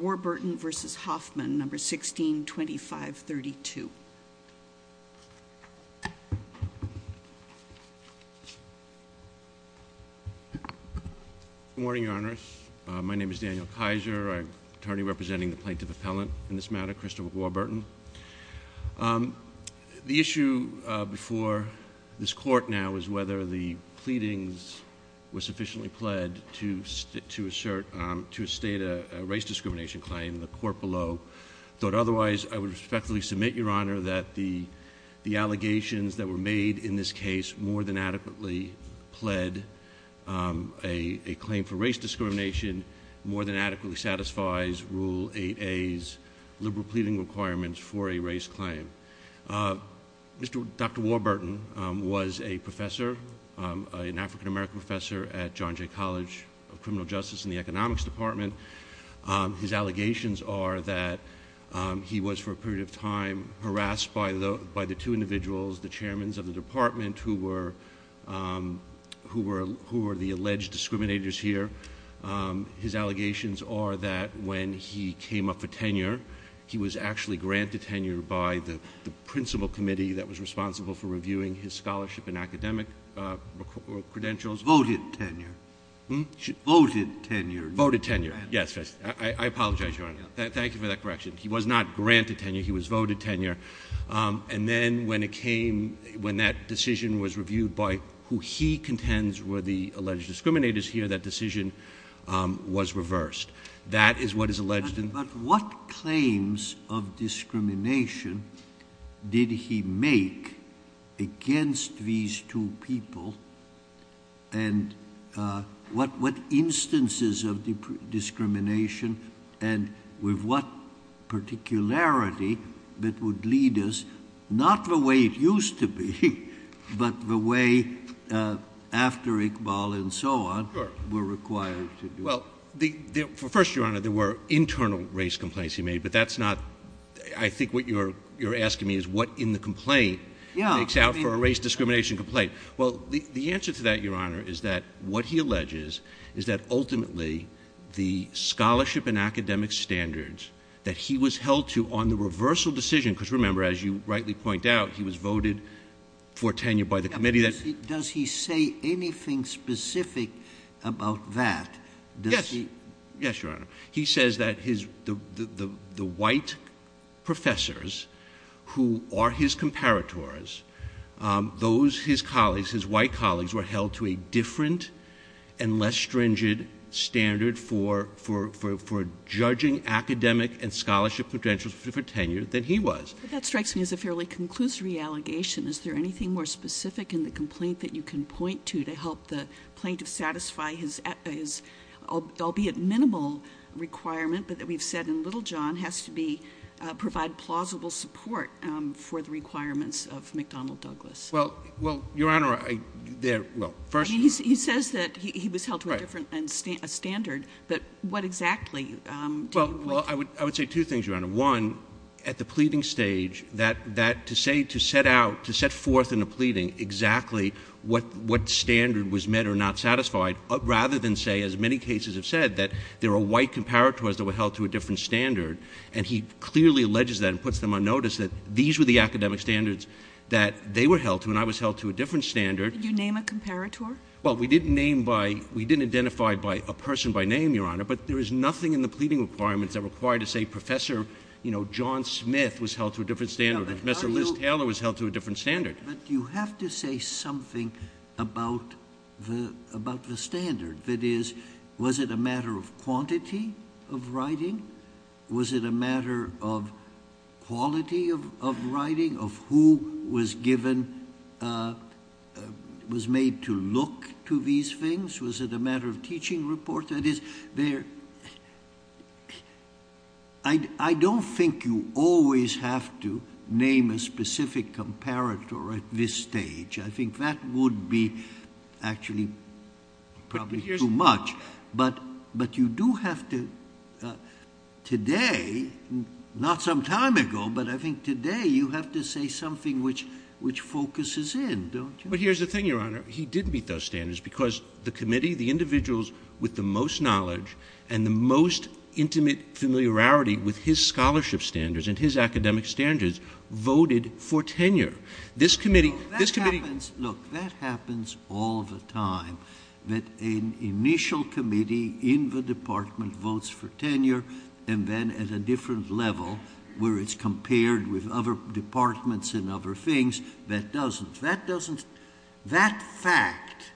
Warburton v. Hoffman, No. 162532. Good morning, Your Honor. My name is Daniel Kaiser. I'm attorney representing the Plaintiff Appellant in this matter, Christopher Warburton. The issue before this court now is whether the pleadings were sufficiently pled to assert, to raise discrimination claim in the court below. Though otherwise, I would respectfully submit, Your Honor, that the the allegations that were made in this case more than adequately pled a claim for race discrimination, more than adequately satisfies Rule 8a's liberal pleading requirements for a race claim. Dr. Warburton was a professor, an African-American professor at John Jay College of Criminal Justice in the Economics Department. His allegations are that he was, for a period of time, harassed by the by the two individuals, the chairmen of the department who were who were who were the alleged discriminators here. His allegations are that when he came up for tenure, he was actually granted tenure by the principal committee that was responsible for Voted tenure. Voted tenure. Yes. I apologize, Your Honor. Thank you for that correction. He was not granted tenure. He was voted tenure. And then when it came, when that decision was reviewed by who he contends were the alleged discriminators here, that decision was reversed. That is what is alleged. But what claims of discrimination did he make against these two people? And what what instances of discrimination and with what particularity that would lead us, not the way it used to be, but the way after Iqbal and so on were required Well, first, Your Honor, there were internal race complaints he made, but that's not, I think what you're you're asking me is what in the complaint makes out for a race discrimination complaint. Well, the answer to that, Your Honor, is that what he alleges is that ultimately the scholarship and academic standards that he was held to on the reversal decision, because remember, as you rightly point out, he was voted for tenure by the committee. Does he say anything specific about that? Yes. Yes, Your Honor. He says that his the white professors who are his comparators, those his colleagues, his white colleagues were held to a different and less stringent standard for judging academic and scholarship potential for tenure than he was. That strikes me as a fairly conclusory allegation. Is there anything more specific in the complaint that you can point to to help the plaintiff satisfy his, albeit minimal requirement, but that we've said in Little John has to be provide plausible support for the requirements of McDonnell Douglas? Well, well, Your Honor, there, well, first, he says that he was held to a different standard, but what exactly? Well, I would I would say two things, Your Honor. One, at the pleading stage that that to say to set out to set forth in a pleading exactly what what standard was met or not satisfied rather than say, as many cases have said, that there are white comparators that were held to a different standard. And he clearly alleges that and puts them on notice that these were the academic standards that they were held to. And I was held to a different standard. You name a comparator? Well, we didn't name by. We didn't identify by a person by name, Your Honor. But there is nothing in the pleading requirements that required to say Professor, you know, John Smith was held to a different standard. Mr. Liz Taylor was held to a different standard. But you have to say something about the about the standard. That is, was it a matter of quantity of writing? Was it a matter of quality of writing? Of who was given, was made to look to these things? Was it a matter of teaching report? That is, there, I don't think you always have to name a specific comparator at this stage. I think that would be actually probably too much. But, but you do have to, today, not some time ago, but I think today you have to say something which, which focuses in, don't you? But here's the thing, Your Honor. He did meet those standards because the committee, the individuals with the most knowledge and the most intimate familiarity with his scholarship standards and his academic standards voted for tenure. This committee, this committee... No, that happens, look, that happens all the time. That an initial committee in the department votes for tenure and then at a different level where it's compared with other departments and other things, that doesn't, that doesn't, that fact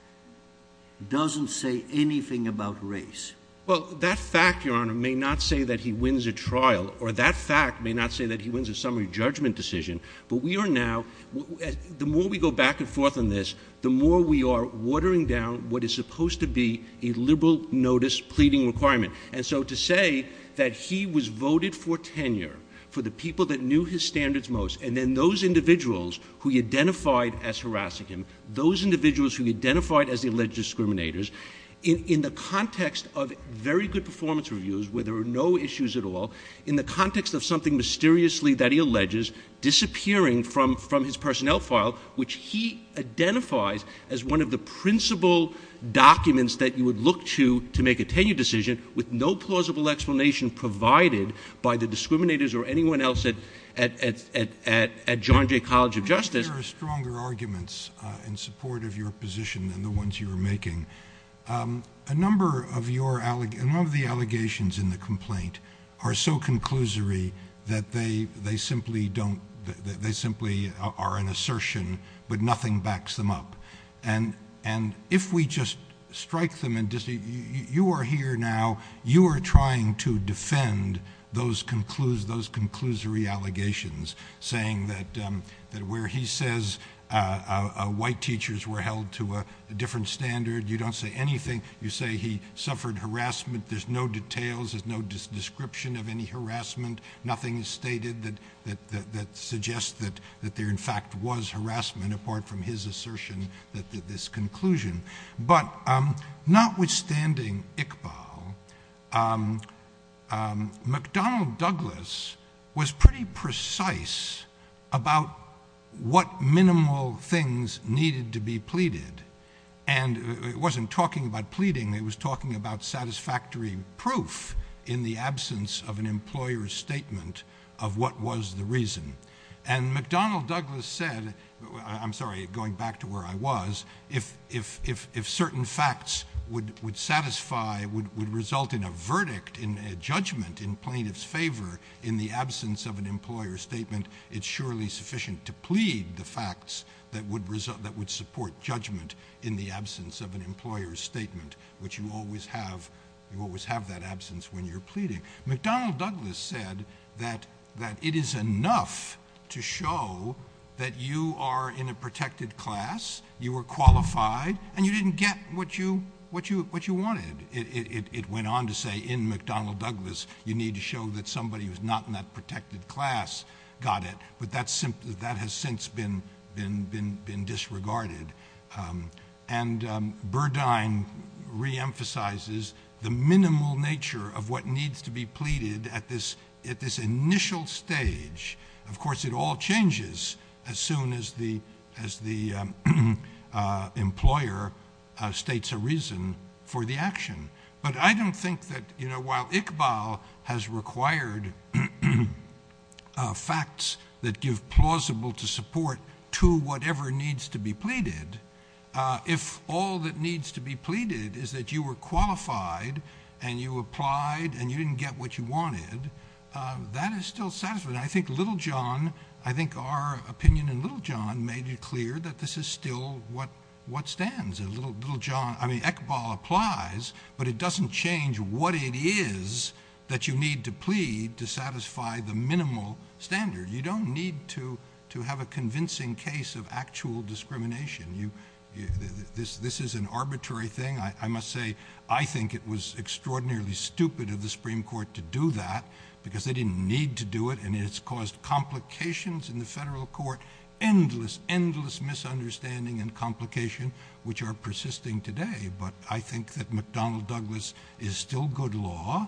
doesn't say anything about race. Well, that fact, Your Honor, may not say that he wins a trial or that fact may not say that he wins a summary judgment decision, but we are now, the more we go back and forth on this, the more we are watering down what is supposed to be a liberal notice pleading requirement. And so to say that he was voted for tenure for the people that knew his standards most and then those individuals who identified as harassing him, those individuals who identified as the alleged discriminators, in the context of very good performance reviews where there were no issues at all, in the context of something mysteriously that he alleges disappearing from, from his personnel file, which he identifies as one of the principal documents that you would look to, to make a tenure decision with no plausible explanation provided by the discriminators or anyone else at, at, at, at, at John Jay College of Justice... There are stronger arguments in support of your position than the ones you were making. A number of your, a number of the allegations in the complaint are so conclusory that they, they simply don't, they, they simply are an assertion, but nothing backs them up. And, and if we just strike them and just, you, you are here now, you are trying to defend those concludes, those conclusory allegations, saying that, that where he says white teachers were held to a different standard, you don't say anything. You say he suffered harassment. There's no details, there's no description of any harassment. Nothing is stated that, that, that, that suggests that, that there in fact was harassment apart from his assertion that, that this conclusion. But notwithstanding Iqbal, McDonnell Douglas was pretty precise about what minimal things needed to be pleaded. And it wasn't talking about pleading, it was talking about satisfactory proof in the absence of an employer's statement of what was the reason. And McDonnell Douglas said, I'm sorry, going back to where I was, if, if, if, if certain facts would, would satisfy, would, would result in a verdict, in a judgment in plaintiff's favor in the absence of an employer's statement, it's surely sufficient to plead the facts that would result, that would support judgment in the absence of an employer's statement, which you always have, you always have that absence when you're pleading. McDonnell Douglas said that, that it is enough to show that you are in a protected class, you were qualified, and you didn't get what you, what you, what you wanted. It, it, it, it went on to say in McDonnell Douglas, you need to show that somebody who's not in that protected class got it. But that's simply, that has since been, been, been, been disregarded. And Burdine reemphasizes the minimal nature of what needs to be pleaded at this, at this initial stage. Of course, it all changes as the employer states a reason for the action. But I don't think that, you know, while Iqbal has required facts that give plausible to support to whatever needs to be pleaded, if all that needs to be pleaded is that you were qualified and you applied and you didn't get what you wanted, that is still satisfied. I think Littlejohn, I think our opinion in Littlejohn made it clear that this is still what, what stands. And Littlejohn, I mean, Iqbal applies, but it doesn't change what it is that you need to plead to satisfy the minimal standard. You don't need to, to have a convincing case of actual discrimination. You, this, this is an arbitrary thing. I, I must say, I think it was extraordinarily stupid of the Supreme Court to do that because they didn't need to do it. And it's caused complications in the federal court, endless, endless misunderstanding and complication, which are persisting today. But I think that McDonnell Douglas is still good law.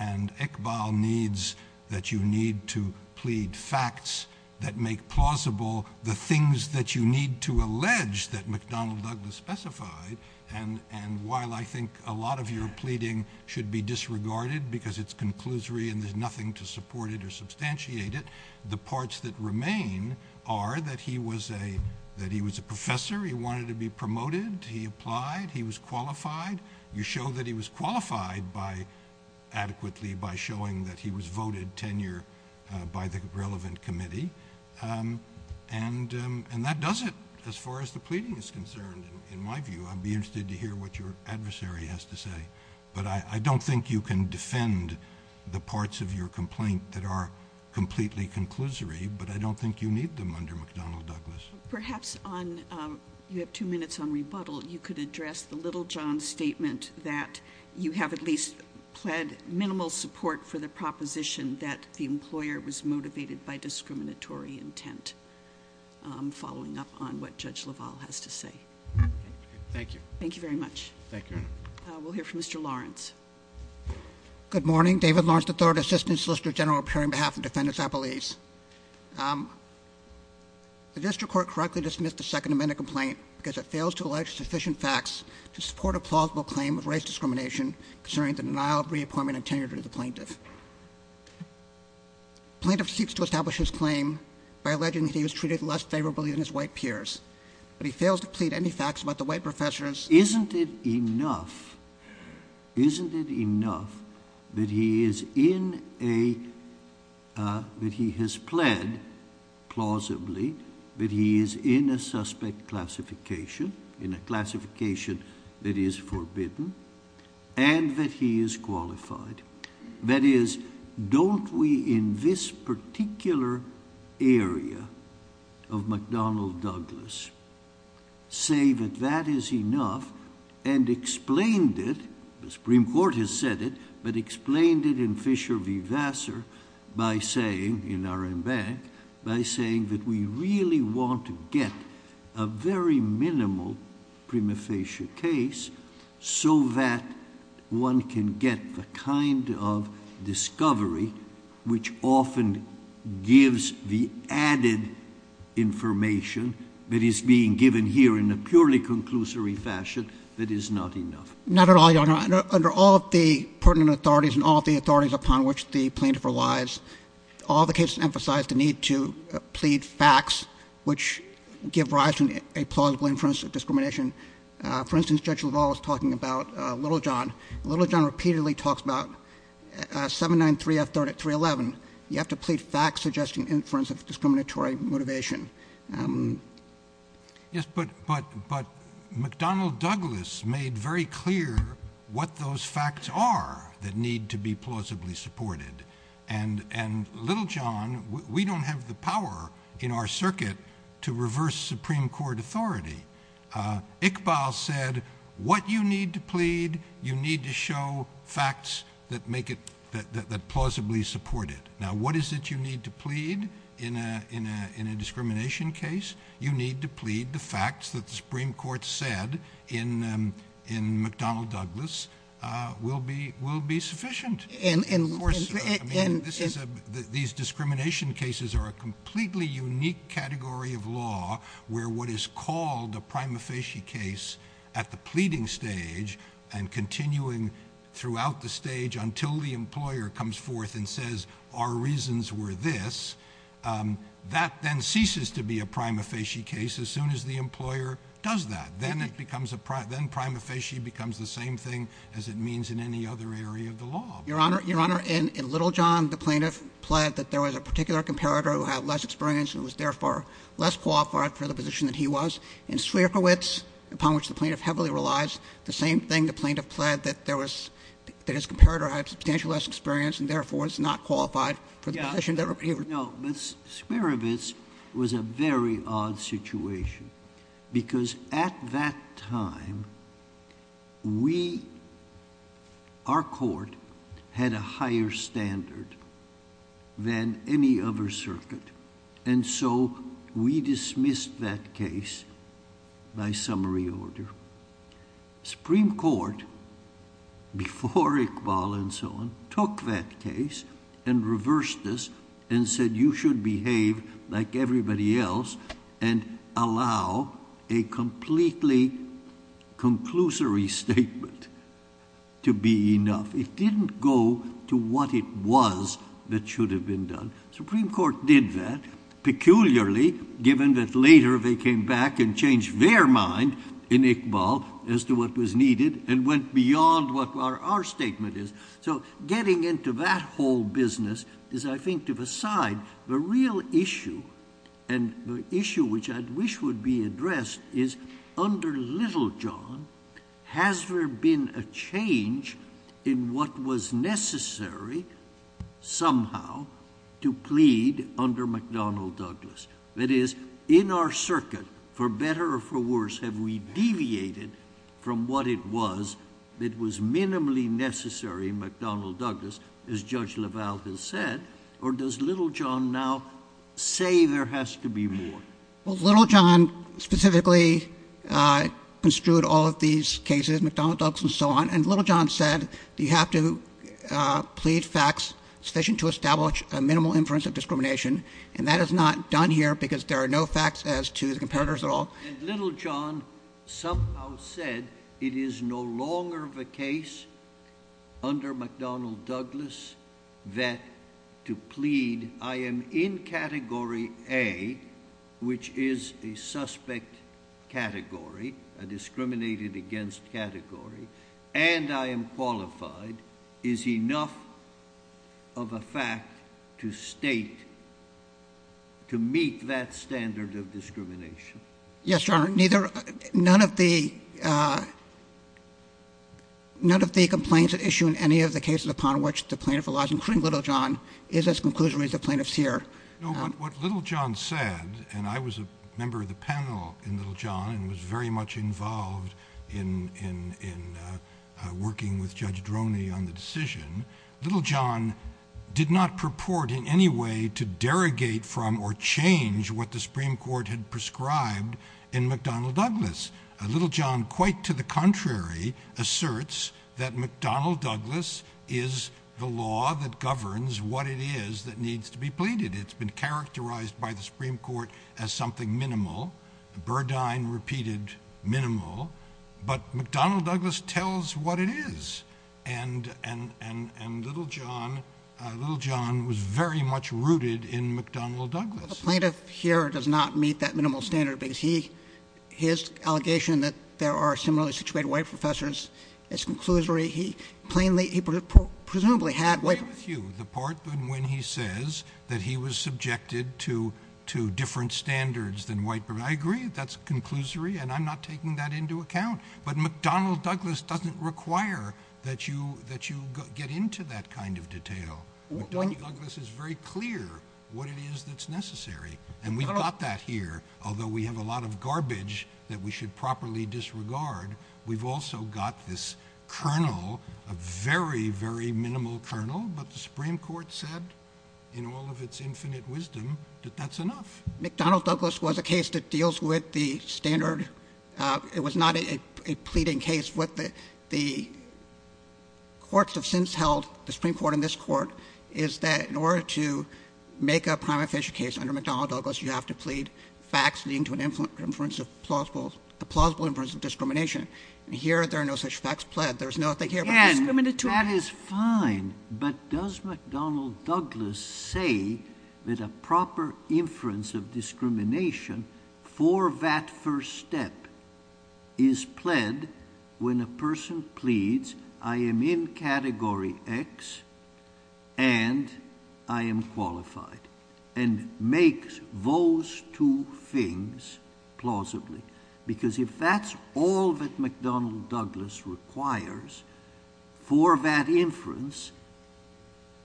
And Iqbal needs that you need to plead facts that make plausible the things that you need to allege that McDonnell Douglas specified. And, and while I think a lot of your case is disregarded because it's conclusory and there's nothing to support it or substantiate it, the parts that remain are that he was a, that he was a professor, he wanted to be promoted, he applied, he was qualified. You show that he was qualified by adequately, by showing that he was voted tenure, uh, by the relevant committee. Um, and, um, and that does it as far as the pleading is concerned. In my view, I'd be interested to hear what your adversary has to say. But I, I don't think you can defend the parts of your complaint that are completely conclusory, but I don't think you need them under McDonnell Douglas. Perhaps on, um, you have two minutes on rebuttal. You could address the little John statement that you have at least pled minimal support for the proposition that the employer was motivated by discriminatory intent. Um, following up on what judge Laval has to say. Thank you. Thank you very much. Thank you. Uh, good morning. David Lawrence, the third assistant solicitor general appearing behalf of defendants. I believe, um, the district court correctly dismissed the second amendment complaint because it fails to elect sufficient facts to support a plausible claim of race discrimination concerning the denial of reappointment and tenure to the plaintiff plaintiff seeks to establish his claim by alleging that he was treated less favorably than his white peers. But he fails to plead any facts about the white professors. Isn't it enough? Isn't it enough that he is in a, uh, that he has pled plausibly that he is in a suspect classification in a classification that is forbidden and that he is qualified. That is, don't we in this particular area of McDonnell Douglas say that that is enough and explained it? The Supreme Court has said it, but explained it in Fisher v. Vassar by saying in our own bank by saying that we really want to get a very minimal prima facie case so that one can get the kind of discovery which often gives the added information that is being given here in a purely conclusory fashion that is not enough. Not at all, Your Honor. Under all of the pertinent authorities and all the authorities upon which the plaintiff relies, all the cases emphasize the need to plead facts which give rise to a plausible inference of discrimination. For instance, Judge LaValle was talking about Little John. Little John repeatedly talks about 793 F 311. You have to plead facts suggesting inference of discriminatory motivation. Yes, but, but, but McDonnell Douglas made very clear what those facts are that need to be plausibly supported. And, and Little John, we don't have the power in our circuit to reverse Supreme Court authority. Uh, Iqbal said what you need to plead, you need to show facts that make it, that, that, that plausibly support it. Now, what is it you need to plead in a, in a, in a discrimination case? You need to plead the facts that the Supreme Court said in, um, in McDonnell Douglas, uh, will be, will be sufficient. And, and of course, I mean, this is a, these discrimination cases are a completely unique category of law where what is called a prima facie case at the pleading stage and continuing throughout the stage until the employer comes forth and says, our reasons were this, um, that then ceases to be a prima facie case. As soon as the employer does that, then it becomes a pri, then prima facie becomes the same thing as it means in any other area of the law. Your honor, your honor, in Little John, the plaintiff pled that there was a particular comparator who had less experience and was therefore less qualified for the position that he was. In Smierowicz, upon which the plaintiff heavily relies, the same thing, the plaintiff pled that there was, that his comparator had substantially less experience and therefore is not qualified for the position that he was. No, but Smierowicz was a very odd situation because at that time, we, our court had a higher standard than any other circuit and so we dismissed that case by summary order. Supreme Court, before Iqbal and so on, took that case and reversed this and said you should behave like everybody else and allow a completely conclusory statement to be enough. It didn't go to what it was that should have been done. Supreme Court did that, peculiarly given that later they came back and changed their mind in Iqbal as to what was needed and went beyond what our, our statement is. So getting into that whole business is, I think, to the side. The real issue and the issue which I wish would be addressed is under Littlejohn, has there been a change in what was necessary somehow to plead under McDonnell Douglas? That is, in our circuit, for better or for worse, have we deviated from what it was that was minimally necessary McDonnell Douglas, as Judge LaValle has said, or does Littlejohn now say there has to be more? Well, Littlejohn specifically construed all of these cases, McDonnell Douglas and so on, and Littlejohn said you have to plead facts sufficient to establish a minimal inference of discrimination and that is not done here because there are no facts as to the comparators at all. And Littlejohn somehow said it is no longer the case under McDonnell Douglas that to plead, I am in Category A, which is a suspect category, a discriminated against category, and I am qualified, is enough of a fact to state, to meet that standard of discrimination. Yes, Your Honor, neither, none of the complaints at issue in any of the cases upon which the plaintiff relies, including Littlejohn, is as conclusionary as the plaintiff's here. No, but what Littlejohn said, and I was a member of the panel in Littlejohn and was very much involved in working with Judge Droney on the decision, Littlejohn did not purport in any way to derogate from or change what the Supreme Court had prescribed in McDonnell Douglas. Littlejohn, quite to the contrary, asserts that McDonnell Douglas is the law that governs what it is that needs to be pleaded. It's been characterized by the Supreme Court as something minimal, Burdine repeated minimal, but McDonnell Douglas tells what it is and Littlejohn was very much rooted in McDonnell Douglas. But the plaintiff here does not meet that minimal standard because he, his allegation that there are similarly situated white professors, it's conclusory, he plainly, he presumably had white professors. I agree with you, the part when he says that he was subjected to, to different standards than white professors, I agree that's a conclusory and I'm not taking that into account, but McDonnell Douglas doesn't require that you, that you get into that kind of detail. McDonnell Douglas is very clear what it is that's necessary and we've got that here, although we have a lot of garbage that we should properly disregard, we've also got this kernel, a very, very minimal kernel, but the Supreme Court said in all of its infinite wisdom that that's enough. McDonnell Douglas was a case that deals with the standard, it was not a pleading case. What the, the courts have since held, the Supreme Court and this court, is that in order to make a prima facie case under McDonnell Douglas, you have to plead facts leading to an inference of plausible, a plausible inference of discrimination, and here there are no such facts pled, there's nothing here. And that is fine, but does McDonnell Douglas say that a proper inference of discrimination for that first step is pled when a person pleads, I am in category X and I am qualified, and makes those two things plausibly, because if that's all that McDonnell Douglas requires for that inference,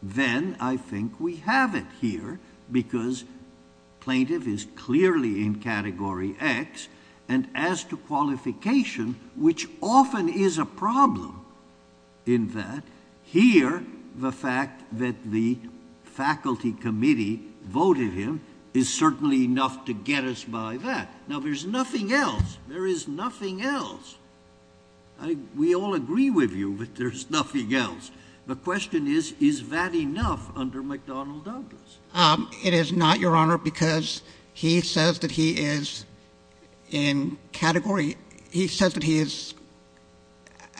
then I think we have it here, because plaintiff is clearly in category X, and as to qualification, which often is a problem in that, here the fact that the faculty committee voted him is certainly enough to get us by that. Now there's nothing else, there is nothing else. I, we all agree with you, but there's nothing else. The question is, is that enough under McDonnell Douglas? It is not, Your Honor, because he says that he is in category, he says that he is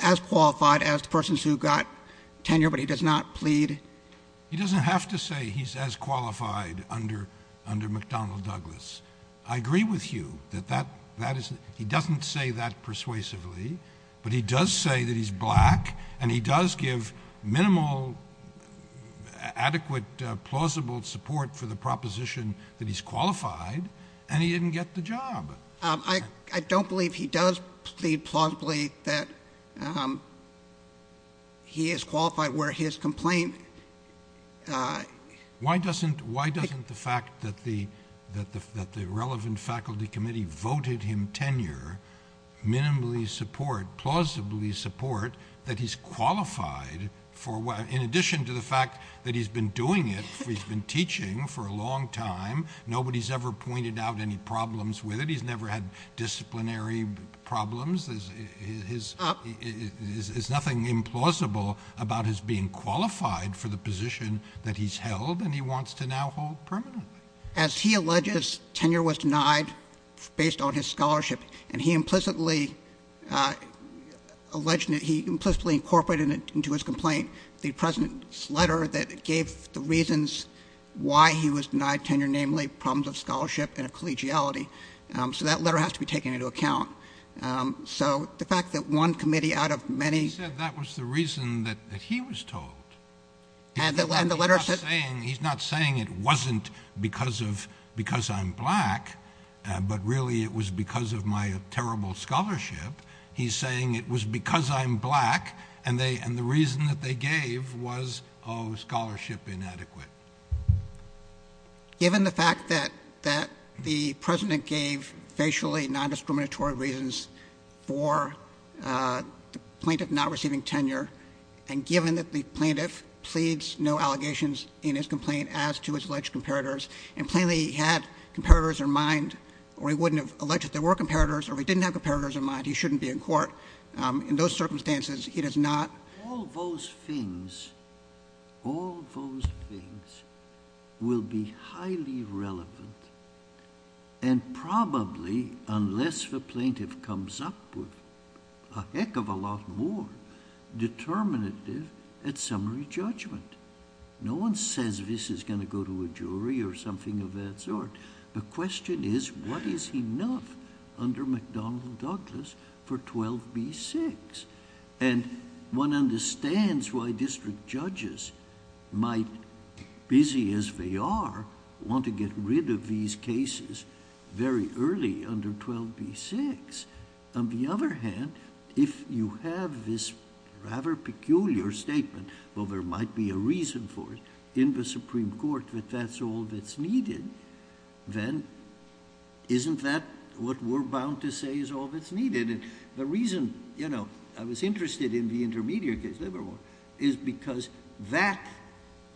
as qualified as persons who got tenure, but he does not plead. He doesn't have to say he's as qualified under, under McDonnell Douglas. I agree with you that that, that is, he doesn't say that persuasively, but he does say that he's black, and he does give minimal, adequate, plausible support for the proposition that he's qualified, and he didn't get the job. I, I don't believe he does plead plausibly that he is qualified where his complaint... Why doesn't, why doesn't the fact that the, that the, that the relevant faculty committee voted him tenure minimally support, or plausibly support, that he's qualified for, in addition to the fact that he's been doing it, he's been teaching for a long time, nobody's ever pointed out any problems with it, he's never had disciplinary problems, his, his, is, is nothing implausible about his being qualified for the position that he's held, and he wants to now hold permanently. As he alleges tenure was denied based on his scholarship, and he implicitly alleged, he implicitly incorporated it into his complaint, the president's letter that gave the reasons why he was denied tenure, namely problems of scholarship and of collegiality, so that letter has to be taken into account. So the fact that one committee out of many... He said that was the reason that he was told. And the letter... He's not saying it wasn't because of, because I'm black, but really it was because of my terrible scholarship. He's saying it was because I'm black, and they, and the reason that they gave was, oh, scholarship inadequate. Given the fact that, that the president gave facially non-discriminatory reasons for the plaintiff not receiving tenure, and given that the plaintiff pleads no allegations in his complaint as to his alleged comparators, and plainly he had comparators in mind, or he wouldn't have alleged that there were comparators, or he didn't have comparators in mind, he shouldn't be in court. In those circumstances, he does not... All those things, all those things will be highly relevant, and probably, unless the plaintiff comes up with a heck of a lot more, determinative at summary judgment. No one says this is going to go to a jury or something of that sort. The question is, what is enough under McDonnell-Douglas for 12b-6? And one understands why district judges might, busy as they are, want to get rid of these cases very early under 12b-6. On the other hand, if you have this rather peculiar statement, well, there might be a reason for it in the Supreme Court that that's all that's needed, then isn't that what we're bound to say is all that's needed? And the reason, you know, I was interested in the intermediate case, Livermore, is because that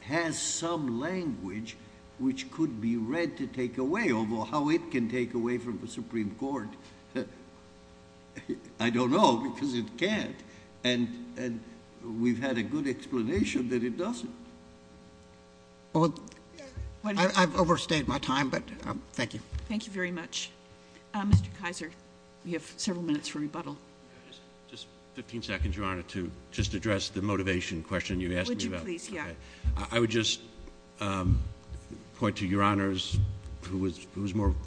has some language which could be read to take away, although how it can take away from the Supreme Court, I don't know, because it can't. And we've had a good explanation that it doesn't. I've overstayed my time, but thank you. Thank you very much. Mr. Kaiser, you have several minutes for rebuttal. Just 15 seconds, Your Honor, to just address the motivation question you asked me about. I would just point to Your Honor's, who was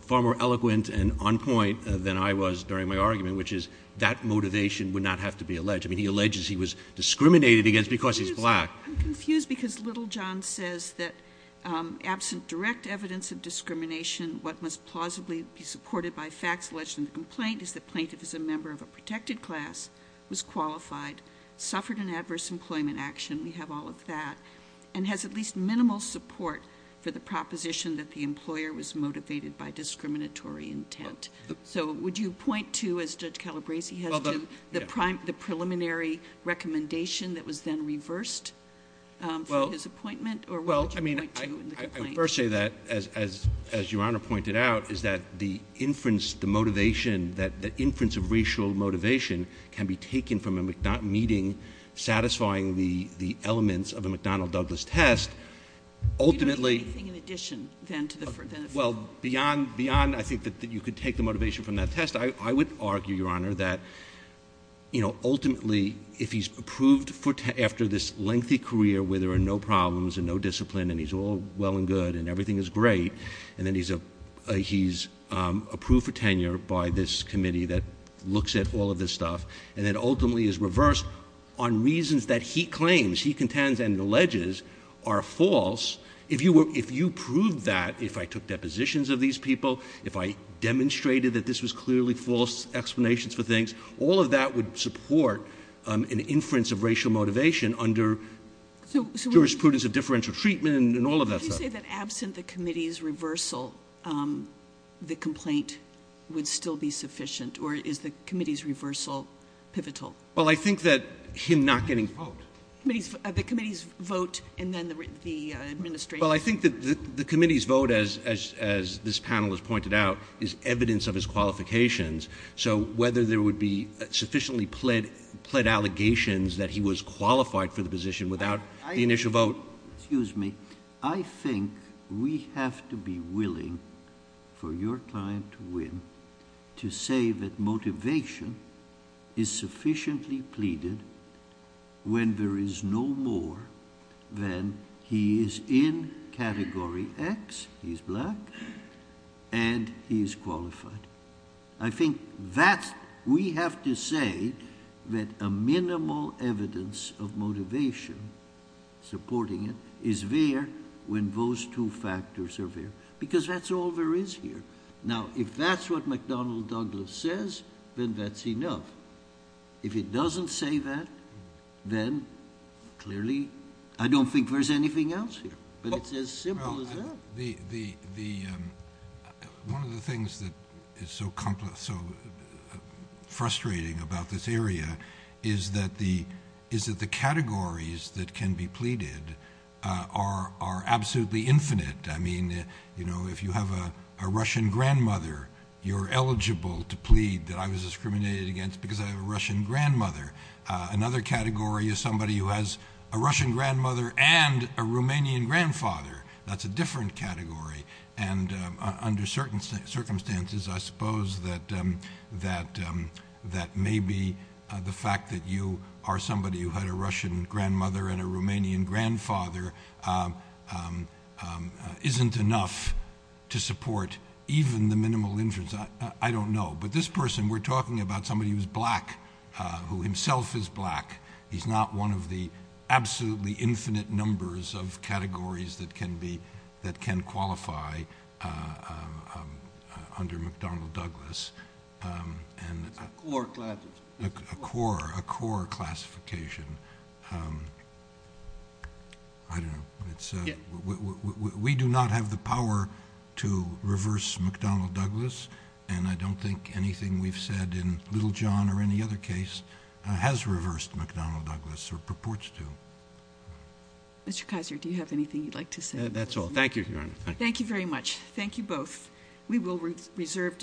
far more eloquent and on point than I was during my argument, which is that motivation would not have to be alleged. I mean, he alleges he was discriminated against because he's black. I'm confused because Littlejohn says that absent direct evidence of discrimination, what must plausibly be supported by facts alleged in the complaint is that plaintiff is a member of a protected class, was qualified, suffered an adverse employment action, we have all of that, and has at least minimal support for the proposition that the employer was motivated by discriminatory intent. So would you point to, as Judge Calabresi has done, the preliminary recommendation that was then reversed for his appointment? Well, I mean, I first say that, as Your Honor pointed out, is that the inference, the motivation, that inference of racial motivation can be taken from a meeting satisfying the elements of a McDonnell-Douglas test. You don't do anything in addition, then, to the firm? Well, beyond, I think, that you could take the motivation from that test, I would argue, Your Honor, that, you know, ultimately, if he's approved after this lengthy career where there are no problems and no discipline and he's all well and good and everything is great, and then he's approved for tenure by this committee that looks at all of this stuff, and then ultimately is reversed on reasons that he claims, he contends, and alleges are false, if you proved that, if I took depositions of these people, if I clearly false explanations for things, all of that would support an inference of racial motivation under jurisprudence of differential treatment and all of that stuff. Would you say that absent the committee's reversal, the complaint would still be sufficient, or is the committee's reversal pivotal? Well, I think that him not getting a vote. The committee's vote and then the administration? Well, I think that the committee's vote, as this panel has pointed out, is evidence of his qualifications, so whether there would be sufficiently pled allegations that he was qualified for the position without the initial vote... Excuse me. I think we have to be willing for your client to win to say that motivation is sufficiently pleaded when there is no more than he is in Category X, he's black, and he's qualified. I think that we have to say that a minimal evidence of motivation supporting it is there when those two factors are there, because that's all there is here. Now, if that's what McDonnell Douglas says, then that's enough. If it doesn't say that, then clearly I don't think there's anything else here, but it's as simple as that. One of the things that is so frustrating about this area is that the categories that can be pleaded are absolutely infinite. I mean, you know, if you have a Russian grandmother, you're eligible to plead that I was discriminated against because I have a Russian grandmother. Another category is somebody who has a Russian grandmother and a Romanian grandfather. That's a different category, and under certain circumstances, I suppose that maybe the fact that you are somebody who had a Russian grandmother and a Romanian grandfather isn't enough to support even the minimal inference. I don't know. But this person, we're talking about somebody who's black, who himself is black. He's not one of the absolutely infinite numbers of categories that can qualify under McDonnell Douglas. A core classification. I don't know. We do not have the power to say that Little John or any other case has reversed McDonnell Douglas or purports to. Mr. Kaiser, do you have anything you'd like to say? That's all. Thank you, Your Honor. Thank you very much. Thank you both. We will reserve decision.